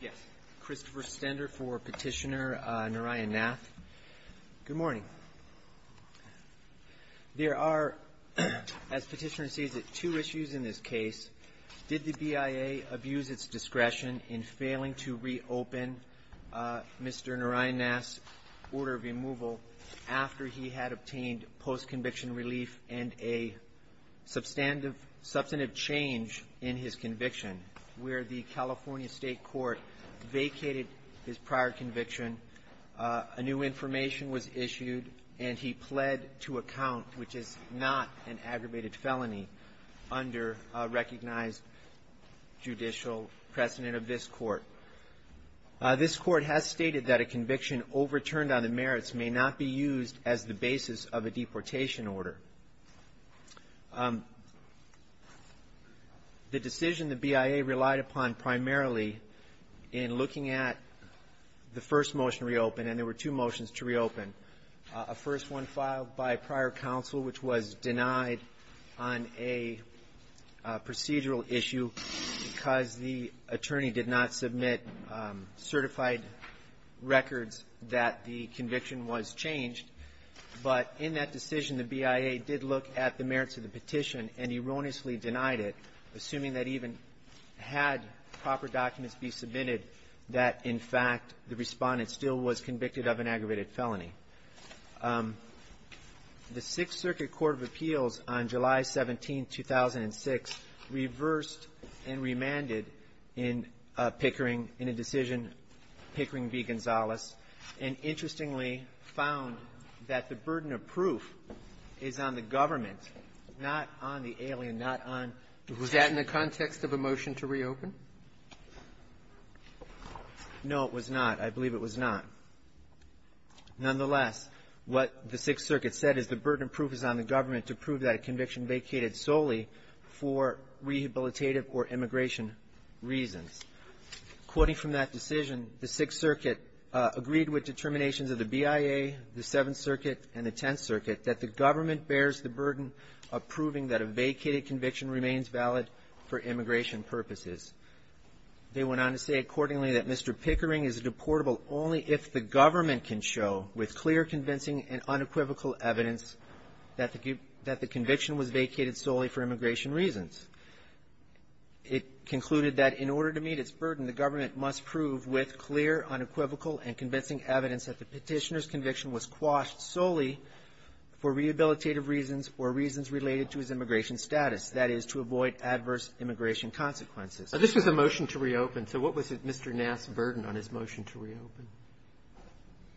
Yes, Christopher Stender for Petitioner Narayan Nath. Good morning. There are, as Petitioner sees it, two issues in this case. Did the BIA abuse its discretion in failing to re-open Mr. Narayan Nath's order of removal after he had obtained post-conviction relief and a substantive change in his conviction, where the California State Court vacated his prior conviction, a new information was issued, and he pled to a count, which is not an aggravated felony under recognized judicial precedent of this Court. This Court has stated that a conviction overturned on the merits may not be used as the basis of a deportation order. The decision the BIA relied upon primarily in looking at the first motion to re-open, and there were two motions to re-open, a first one filed by prior counsel, which was denied on a procedural issue because the attorney did not submit certified records that the conviction was changed. But in that decision, the BIA did look at the merits of the petition and erroneously denied it, assuming that even had proper documents be submitted, that, in fact, the Respondent still was convicted of an aggravated felony. The Sixth Circuit Court of Appeals on July 17, 2006, reversed and remanded in Pickering in a decision, Pickering v. Gonzales, and interestingly found that the burden of proof is on the government, not on the alien, not on the ---- Was that in the context of a motion to re-open? No, it was not. I believe it was not. Nonetheless, what the Sixth Circuit said is the burden of proof is on the government to prove that a conviction vacated solely for rehabilitative or immigration reasons. Quoting from that decision, the Sixth Circuit agreed with determinations of the BIA, the Seventh Circuit, and the Tenth Circuit that the government bears the burden of proving that a vacated conviction remains valid for immigration purposes. They went on to say accordingly that Mr. Pickering is deportable only if the government can show, with clear, convincing, and unequivocal evidence, that the conviction was vacated solely for immigration reasons. It concluded that in order to meet its burden, the government must prove with clear, unequivocal, and convincing evidence that the petitioner's conviction was quashed solely for rehabilitative reasons or reasons related to his immigration status, that is, to avoid adverse immigration consequences. Now, this was a motion to re-open. So what was Mr. Nass' burden on his motion to re-open?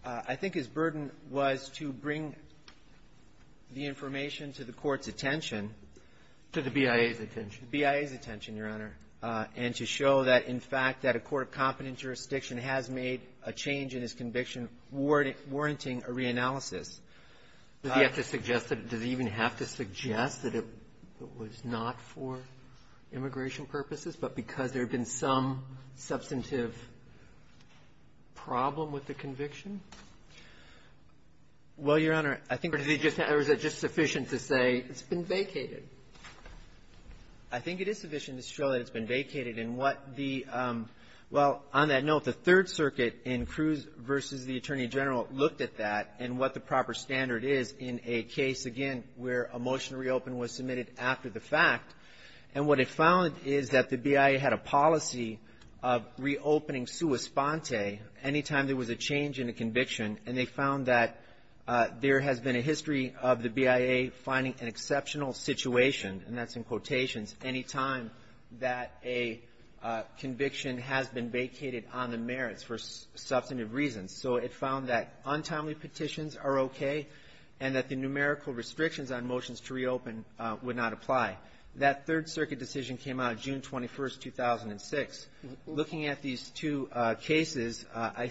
I think his burden was to bring the information to the Court's attention. To the BIA's attention. The BIA's attention, Your Honor, and to show that, in fact, that a court of competent jurisdiction has made a change in his conviction warranting a reanalysis. Does he have to suggest that it was not for immigration purposes, but because there had been some substantive problem with the conviction? Well, Your Honor, I think we're just going to say it's been vacated. I think it is sufficient to show that it's been vacated. And what the – well, on that note, the Third Circuit in Cruz v. the Attorney General looked at that and what the proper standard is in a case, again, where a motion to re-open was submitted after the fact. And what it found is that the BIA had a policy of re-opening sua sponte any time there was a change in a conviction, and they found that there has been a history of the BIA finding an exceptional situation, and that's in quotations, any time that a conviction has been vacated on the merits for substantive reasons. So it found that untimely petitions are okay and that the numerical restrictions on motions to re-open would not apply. That Third Circuit decision came out June 21st, 2006. Looking at these two cases, I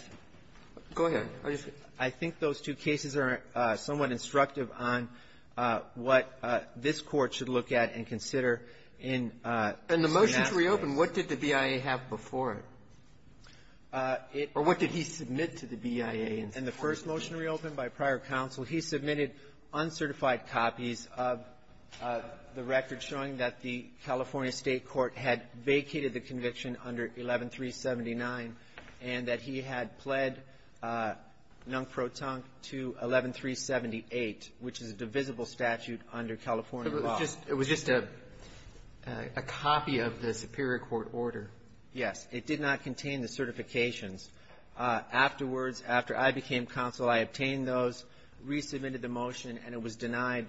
think those two cases are somewhat instructive on what this Court should look at and consider in that case. And the motion to re-open, what did the BIA have before it? It – Or what did he submit to the BIA? In the first motion to re-open by prior counsel, he submitted uncertified copies of the record showing that the California State court had vacated the conviction under 11379 and that he had pled non-proton to 11378, which is the same conviction which is a divisible statute under California law. It was just – it was just a copy of the Superior Court order? Yes. It did not contain the certifications. Afterwards, after I became counsel, I obtained those, re-submitted the motion, and it was denied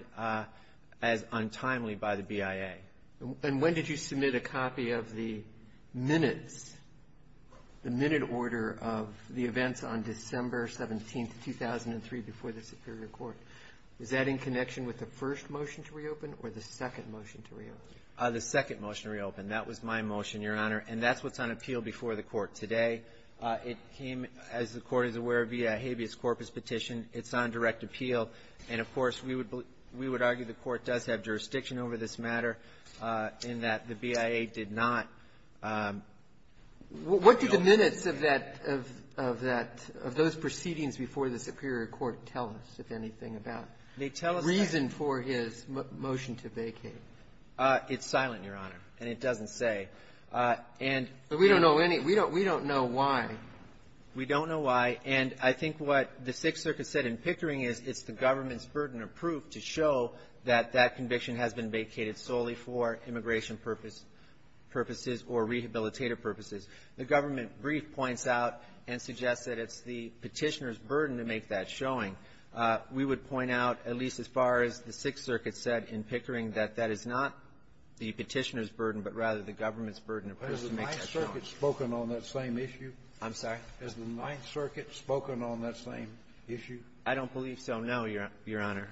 as untimely by the BIA. And when did you submit a copy of the minutes, the minute order of the events on Is that in connection with the first motion to re-open or the second motion to re-open? The second motion to re-open. That was my motion, Your Honor. And that's what's on appeal before the Court today. It came, as the Court is aware, via habeas corpus petition. It's on direct appeal. And, of course, we would – we would argue the Court does have jurisdiction over this matter in that the BIA did not – What did the minutes of that – of that – of those proceedings before the Superior Court tell us, if anything, about? They tell us that – Reason for his motion to vacate. It's silent, Your Honor, and it doesn't say. And – But we don't know any – we don't – we don't know why. We don't know why. And I think what the Sixth Circuit said in Pickering is it's the government's burden of proof to show that that conviction has been vacated solely for immigration purposes or rehabilitative purposes. The government brief points out and suggests that it's the Petitioner's burden to make that showing. We would point out, at least as far as the Sixth Circuit said in Pickering, that that is not the Petitioner's burden, but rather the government's burden of proof to make that showing. Has the Ninth Circuit spoken on that same issue? I'm sorry? Has the Ninth Circuit spoken on that same issue? I don't believe so, no, Your Honor.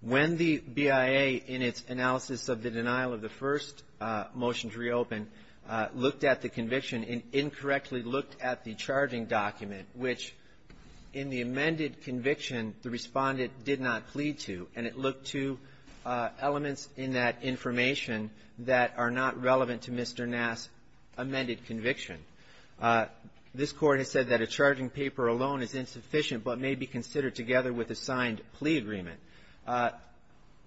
When the BIA, in its analysis of the denial of the first motions reopened, looked at the conviction and incorrectly looked at the charging document, which, in the amended conviction, the respondent did not plead to, and it looked to elements in that information that are not relevant to Mr. Nass' amended conviction. This Court has said that a charging paper alone is insufficient but may be considered together with a signed plea agreement.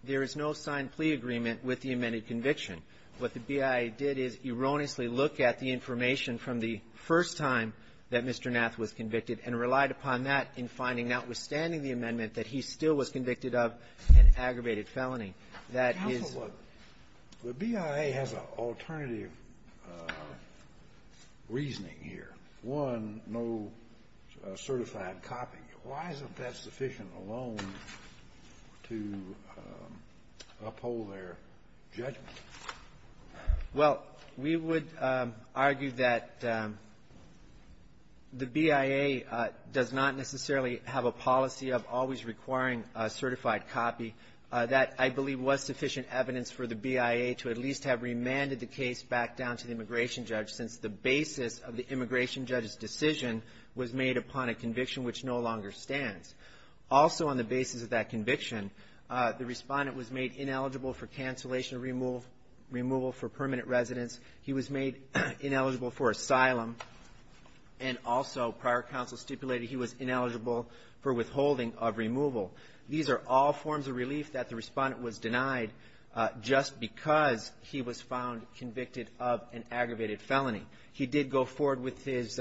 There is no signed plea agreement with the amended conviction. What the BIA did is erroneously look at the information from the first time that he was convicted of an aggravated felony. That is the BIA has an alternative reasoning here. One, no certified copy. Why isn't that sufficient alone to uphold their judgment? Well, we would argue that the BIA does not necessarily have a policy of always requiring a certified copy. That, I believe, was sufficient evidence for the BIA to at least have remanded the case back down to the immigration judge, since the basis of the immigration judge's decision was made upon a conviction which no longer stands. Also, on the basis of that conviction, the respondent was made ineligible for cancellation or removal for permanent residence. He was made ineligible for asylum, and also prior counsel stipulated he was ineligible for withholding of removal. These are all forms of relief that the respondent was denied just because he was found convicted of an aggravated felony. He did go forward with his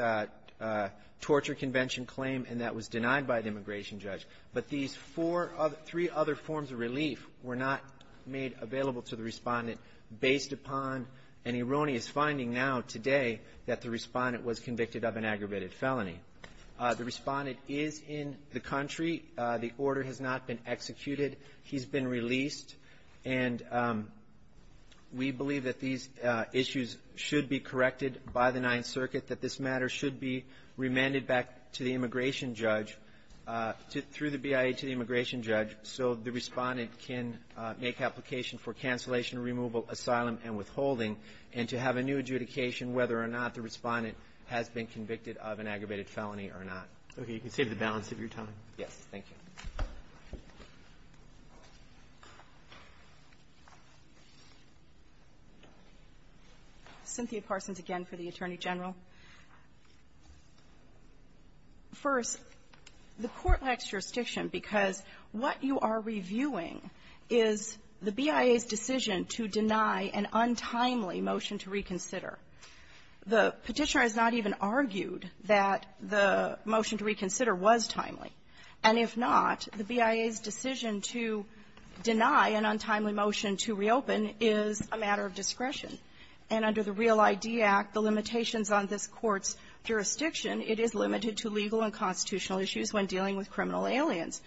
torture convention claim, and that was denied by the immigration judge. But these four other three other forms of relief were not made available to the respondent based upon an erroneous finding now, today, that the respondent was convicted of an aggravated felony. The respondent is in the country. The order has not been executed. He's been released. And we believe that these issues should be corrected by the Ninth Circuit, that this matter should be remanded back to the immigration judge through the BIA to the immigration judge so the respondent can make application for cancellation, removal, asylum, and withholding, and to have a new adjudication whether or not the respondent has been convicted of an aggravated felony or not. Roberts. Okay. You can save the balance of your time. Thank you. Cynthia Parsons again for the Attorney General. First, the Court lacks jurisdiction because what you are reviewing is the BIA's decision to deny an untimely motion to reconsider. The Petitioner has not even argued that the motion to reconsider was timely. And if not, the BIA's decision to deny an untimely motion to reopen is a matter of discretion. And under the Real ID Act, the limitations on this Court's jurisdiction, it is limited to legal and constitutional issues when dealing with criminal aliens.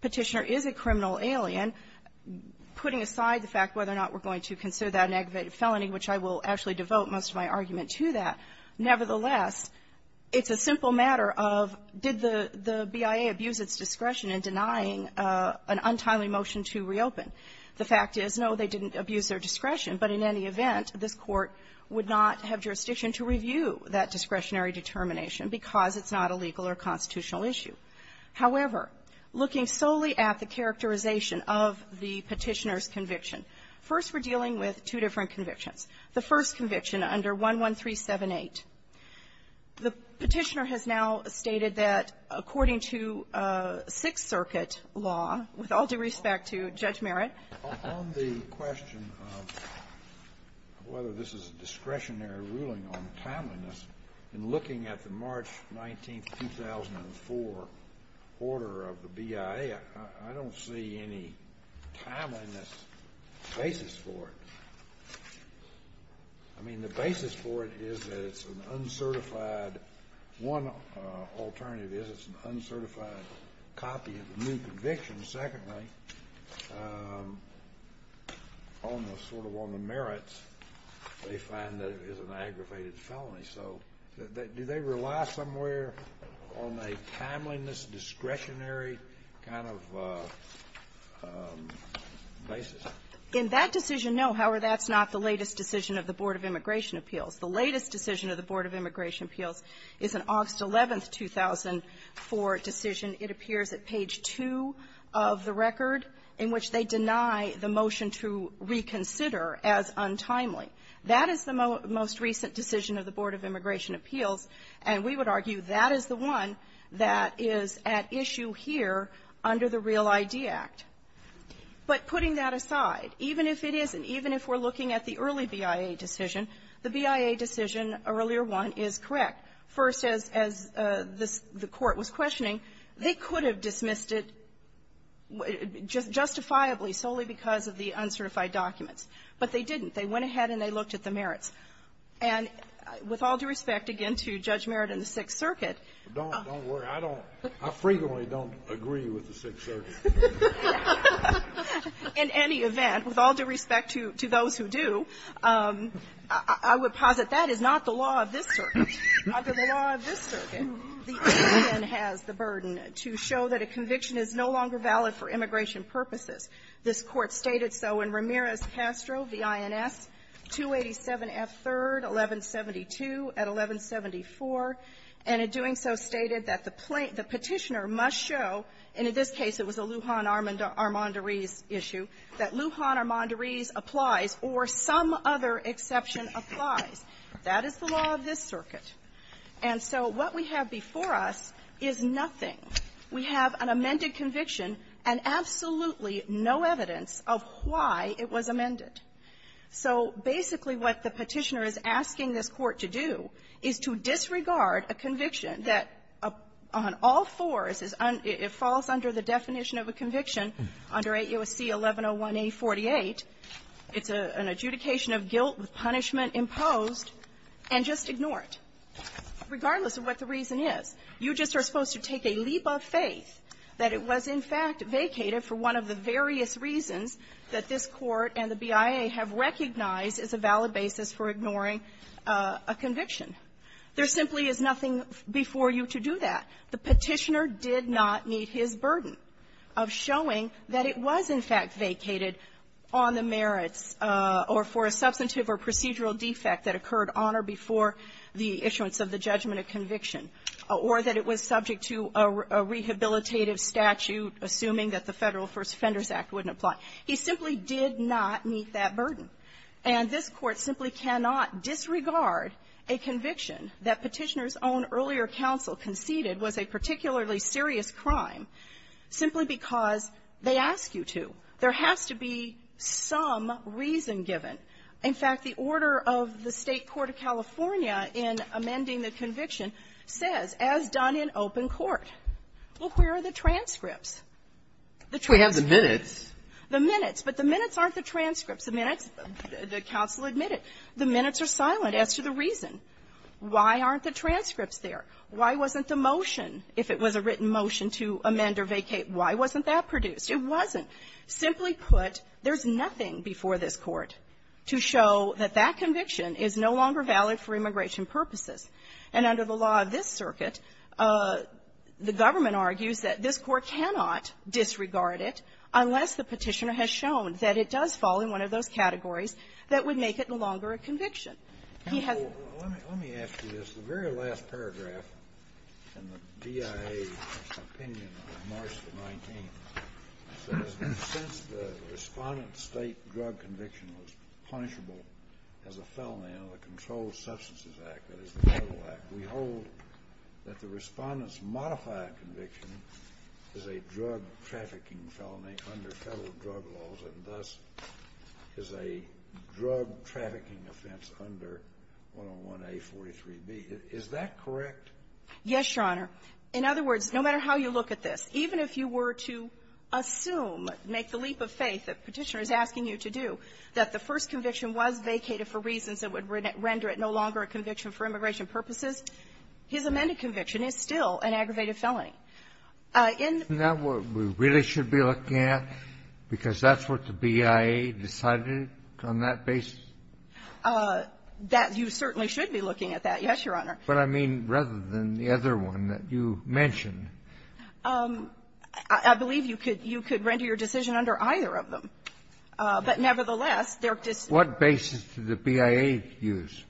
Petitioner is a criminal alien, putting aside the fact whether or not we're going to consider that an aggravated felony, which I will actually devote most of my argument to that. Nevertheless, it's a simple matter of did the BIA abuse its discretion in denying an untimely motion to reopen? The fact is, no, they didn't abuse their discretion. But in any event, this Court would not have jurisdiction to review that discretionary determination because it's not a legal or constitutional issue. However, looking solely at the characterization of the Petitioner's conviction, first we're dealing with two different convictions. The first conviction under 11378. The Petitioner has now stated that according to Sixth Circuit law, with all due respect to Judge Merritt --" Scalia. On the question of whether this is a discretionary ruling on timeliness, in looking at the March 19th, 2004 order of the BIA, I don't see any timeliness basis for it. I mean, the basis for it is that it's an uncertified. One alternative is it's an uncertified copy of the new conviction. Secondly, almost sort of on the merits, they find that it is an aggravated felony. So do they rely somewhere on a timeliness, discretionary kind of basis? In that decision, no. However, that's not the latest decision of the Board of Immigration Appeals. The latest decision of the Board of Immigration Appeals is an August 11, 2004 decision. It appears at page 2 of the record in which they deny the motion to reconsider as untimely. That is the most recent decision of the Board of Immigration Appeals. And we would argue that is the one that is at issue here under the Real ID Act. But putting that aside, even if it isn't, even if we're looking at the early BIA decision, the BIA decision, earlier one, is correct. First, as this the Court was questioning, they could have dismissed it justifiably solely because of the uncertified documents. But they didn't. They went ahead and they looked at the merits. And with all due respect, again, to Judge Merritt and the Sixth Circuit — Don't worry. I don't — I frequently don't agree with the Sixth Circuit. In any event, with all due respect to those who do, I would posit that is not the law of this circuit. Under the law of this circuit, the Indian has the burden to show that a conviction is no longer valid for immigration purposes. This Court stated so in Ramirez-Castro, V.I.N.S. 287F3rd, 1172 at 1174, and in doing so stated that the petitioner must show — and in this case, it was a Lujan-Armandariz issue — that Lujan-Armandariz applies or some other exception applies. That is the law of this circuit. And so what we have before us is nothing. We have an amended conviction and absolutely no evidence of why it was amended. So basically what the petitioner is asking this Court to do is to disregard a conviction that on all fours is — it falls under the definition of a conviction under 8 U.S.C. 1101A48. It's an adjudication of guilt with punishment imposed. And just ignore it, regardless of what the reason is. You just are supposed to take a leap of faith that it was, in fact, vacated for one of the various reasons that this Court and the BIA have recognized as a valid basis for ignoring a conviction. There simply is nothing before you to do that. The petitioner did not meet his burden of showing that it was, in fact, vacated on the merits or for a substantive or procedural defect that occurred on or before the issuance of the judgment of conviction, or that it was subject to a rehabilitative statute, assuming that the Federal First Offenders Act wouldn't apply. He simply did not meet that burden. And this Court simply cannot disregard a conviction that Petitioner's own earlier counsel conceded was a particularly serious crime simply because they ask you to. There has to be some reason given. In fact, the order of the State court of California in amending the conviction says, as done in open court, well, where are the transcripts? The transcripts are silent. The minutes. But the minutes aren't the transcripts. The minutes, the counsel admitted, the minutes are silent as to the reason. Why aren't the transcripts there? Why wasn't the motion, if it was a written simply put, there's nothing before this Court to show that that conviction is no longer valid for immigration purposes. And under the law of this circuit, the government argues that this Court cannot disregard it unless the Petitioner has shown that it does fall in one of those categories that would make it no longer a conviction. He has to do that. Kennedy. Since the Respondent's State drug conviction was punishable as a felony under the Controlled Substances Act, that is, the Federal Act, we hold that the Respondent's modified conviction is a drug-trafficking felony under Federal drug laws, and thus is a drug-trafficking offense under 101A43B. Is that correct? Yes, Your Honor. In other words, no matter how you look at this, even if you were to assume, make the leap of faith that the Petitioner is asking you to do, that the first conviction was vacated for reasons that would render it no longer a conviction for immigration purposes, his amended conviction is still an aggravated felony. In the next one, we really should be looking at, because that's what the BIA decided on that basis? That you certainly should be looking at that, yes, Your Honor. But I mean, rather than the other one that you mentioned. I believe you could render your decision under either of them. But nevertheless, they're just the same. What basis did the BIA use?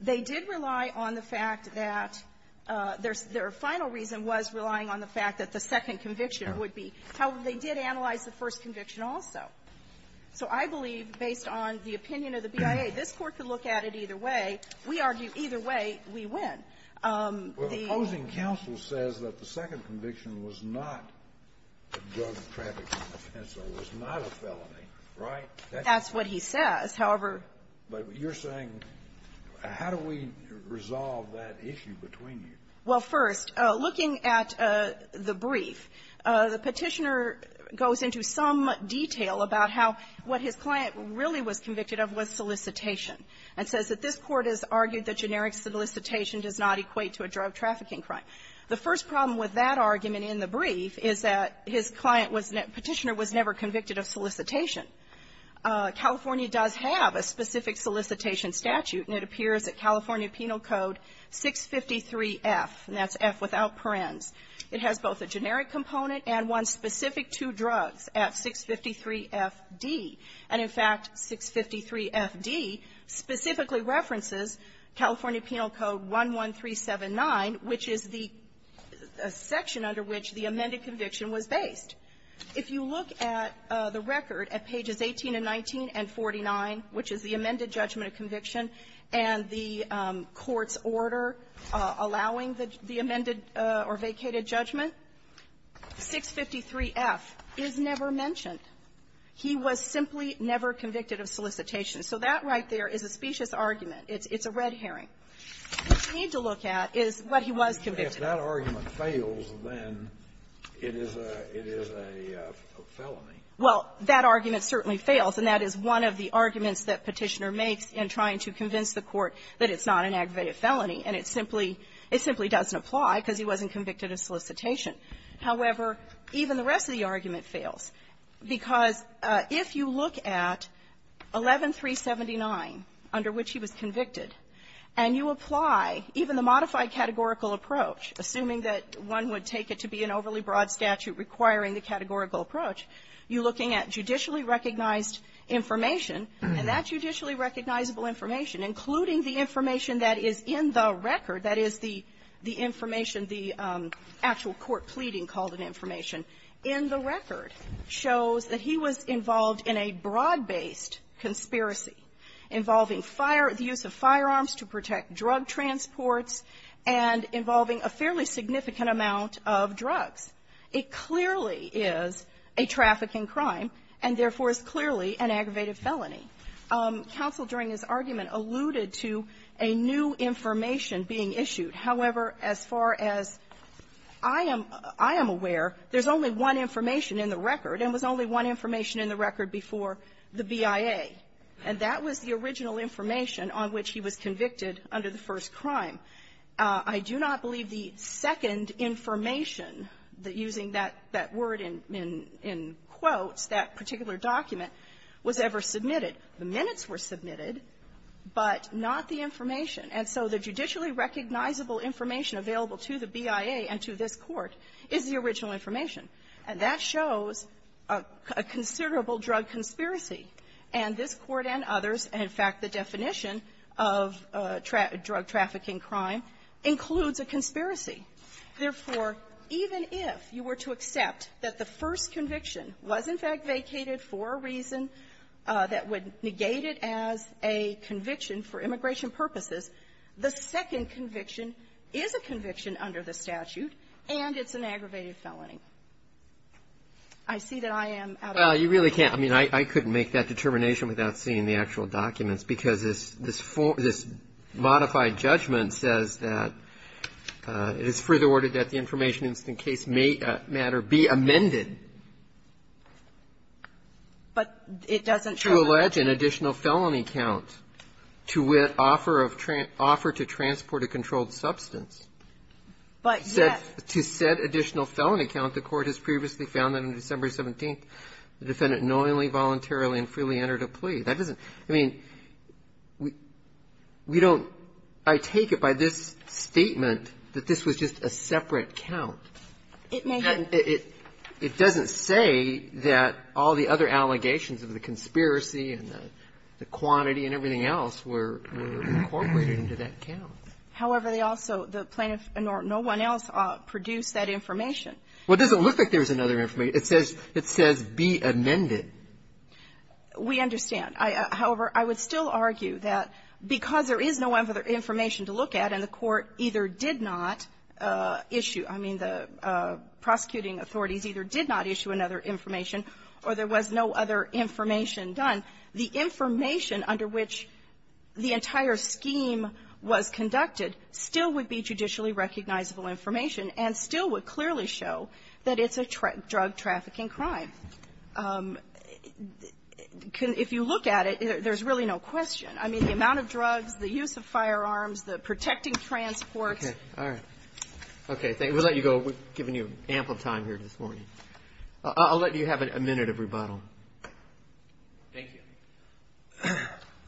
They did rely on the fact that their final reason was relying on the fact that the second conviction would be. However, they did analyze the first conviction also. So I believe, based on the opinion of the BIA, this Court could look at it either way. We argue either way, we win. The opposing counsel says that the second conviction was not a drug-trafficking offense or was not a felony, right? That's what he says. However — But you're saying, how do we resolve that issue between you? Well, first, looking at the brief, the Petitioner goes into some detail about how what his client really was convicted of was solicitation and says that this Court has argued that generic solicitation does not equate to a drug-trafficking crime. The first problem with that argument in the brief is that his client was — Petitioner was never convicted of solicitation. California does have a specific solicitation statute, and it appears at California Penal Code 653F, and that's F without parens. It has both a generic component and one specific to drugs at 653FD. And, in fact, 653FD specifically references California Penal Code 11379, which is the section under which the amended conviction was based. If you look at the record at pages 18 and 19 and 49, which is the amended judgment of conviction and the Court's order allowing the amended or vacated judgment, 653F is never mentioned. He was simply never convicted of solicitation. So that right there is a specious argument. It's a red herring. What you need to look at is what he was convicted of. If that argument fails, then it is a — it is a felony. Well, that argument certainly fails, and that is one of the arguments that Petitioner makes in trying to convince the Court that it's not an aggravated felony, and it simply doesn't apply because he wasn't convicted of solicitation. However, even the rest of the argument fails, because if you look at 11379, under which he was convicted, and you apply even the modified categorical approach, assuming that one would take it to be an overly broad statute requiring the categorical approach, you would be looking at judicially recognized information. And that judicially recognizable information, including the information that is in the record, that is, the information, the actual court pleading called-in information in the record, shows that he was involved in a broad-based conspiracy involving fire — the use of firearms to protect drug transports and involving a fairly and, therefore, is clearly an aggravated felony. Counsel, during his argument, alluded to a new information being issued. However, as far as I am — I am aware, there's only one information in the record, and it was only one information in the record before the BIA. And that was the original information on which he was convicted under the first crime. I do not believe the second information, using that — that word in — in quotes, that particular document, was ever submitted. The minutes were submitted, but not the information. And so the judicially recognizable information available to the BIA and to this Court is the original information. And that shows a considerable drug conspiracy. And this Court and others, and, in fact, the definition of drug trafficking crime, includes a conspiracy. Therefore, even if you were to accept that the first conviction was, in fact, vacated for a reason that would negate it as a conviction for immigration purposes, the second conviction is a conviction under the statute, and it's an aggravated felony. I see that I am out of time. Well, you really can't. I mean, I couldn't make that determination without seeing the actual documents, because this — this modified judgment says that it is further ordered that the defendant voluntarily and freely entered a plea. But it doesn't show that. To allege an additional felony count to offer of — offer to transport a controlled substance. But, yes. To said additional felony count, the Court has previously found that on December 17th, the defendant knowingly, voluntarily, and freely entered a plea. That doesn't — I mean, we don't — I take it by this statement that this was just a separate count. It may have — But it doesn't say that all the other allegations of the conspiracy and the quantity and everything else were — were incorporated into that count. However, they also — the plaintiff and no one else produced that information. Well, it doesn't look like there's another information. It says — it says, be amended. We understand. However, I would still argue that because there is no other information to look at, and the Court either did not issue — I mean, the prosecuting authorities either did not issue another information, or there was no other information done, the information under which the entire scheme was conducted still would be judicially recognizable information and still would clearly show that it's a drug-trafficking crime. If you look at it, there's really no question. I mean, the amount of drugs, the use of firearms, the protecting transports. Okay. All right. Okay. We'll let you go. We've given you ample time here this morning. I'll let you have a minute of rebuttal. Thank you.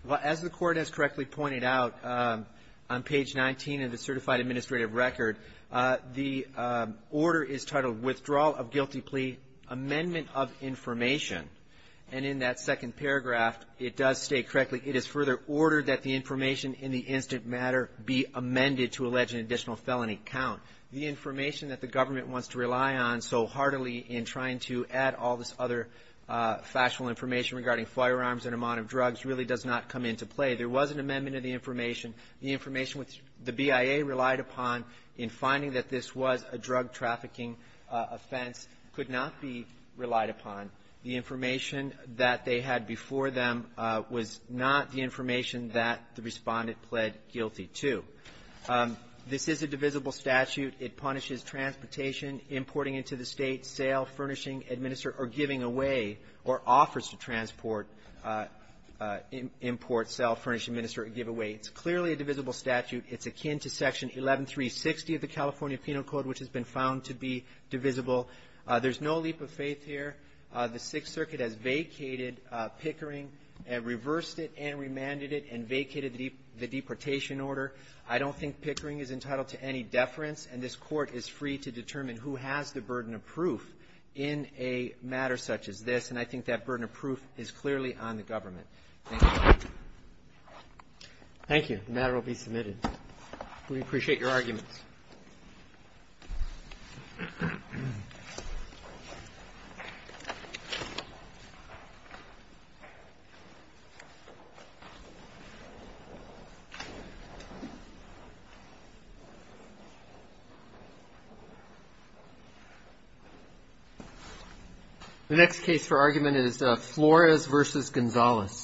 Well, as the Court has correctly pointed out on page 19 of the certified administrative record, the order is titled, Withdrawal of Guilty Plea Amendment of Information. And in that second paragraph, it does state correctly, it is further ordered that the information in the instant matter be amended to allege an additional felony count. The information that the government wants to rely on so heartily in trying to add all this other factual information regarding firearms and amount of drugs really does not come into play. There was an amendment of the information. The information which the BIA relied upon in finding that this was a drug-trafficking offense could not be relied upon. The information that they had before them was not the information that the Respondent pled guilty to. This is a divisible statute. It punishes transportation, importing into the State, sale, furnishing, administer, or giving away, or offers to transport, import, sell, furnish, administer, or give away. It's clearly a divisible statute. It's akin to Section 11360 of the California Penal Code, which has been found to be divisible. There's no leap of faith here. The Sixth Circuit has vacated Pickering and reversed it and remanded it and vacated the deportation order. I don't think Pickering is entitled to any deference, and this Court is free to determine who has the burden of proof in a matter such as this, and I think that burden of proof is clearly on the government. Thank you. Thank you. The matter will be submitted. We appreciate your arguments. The next case for argument is Flores v. Gonzales.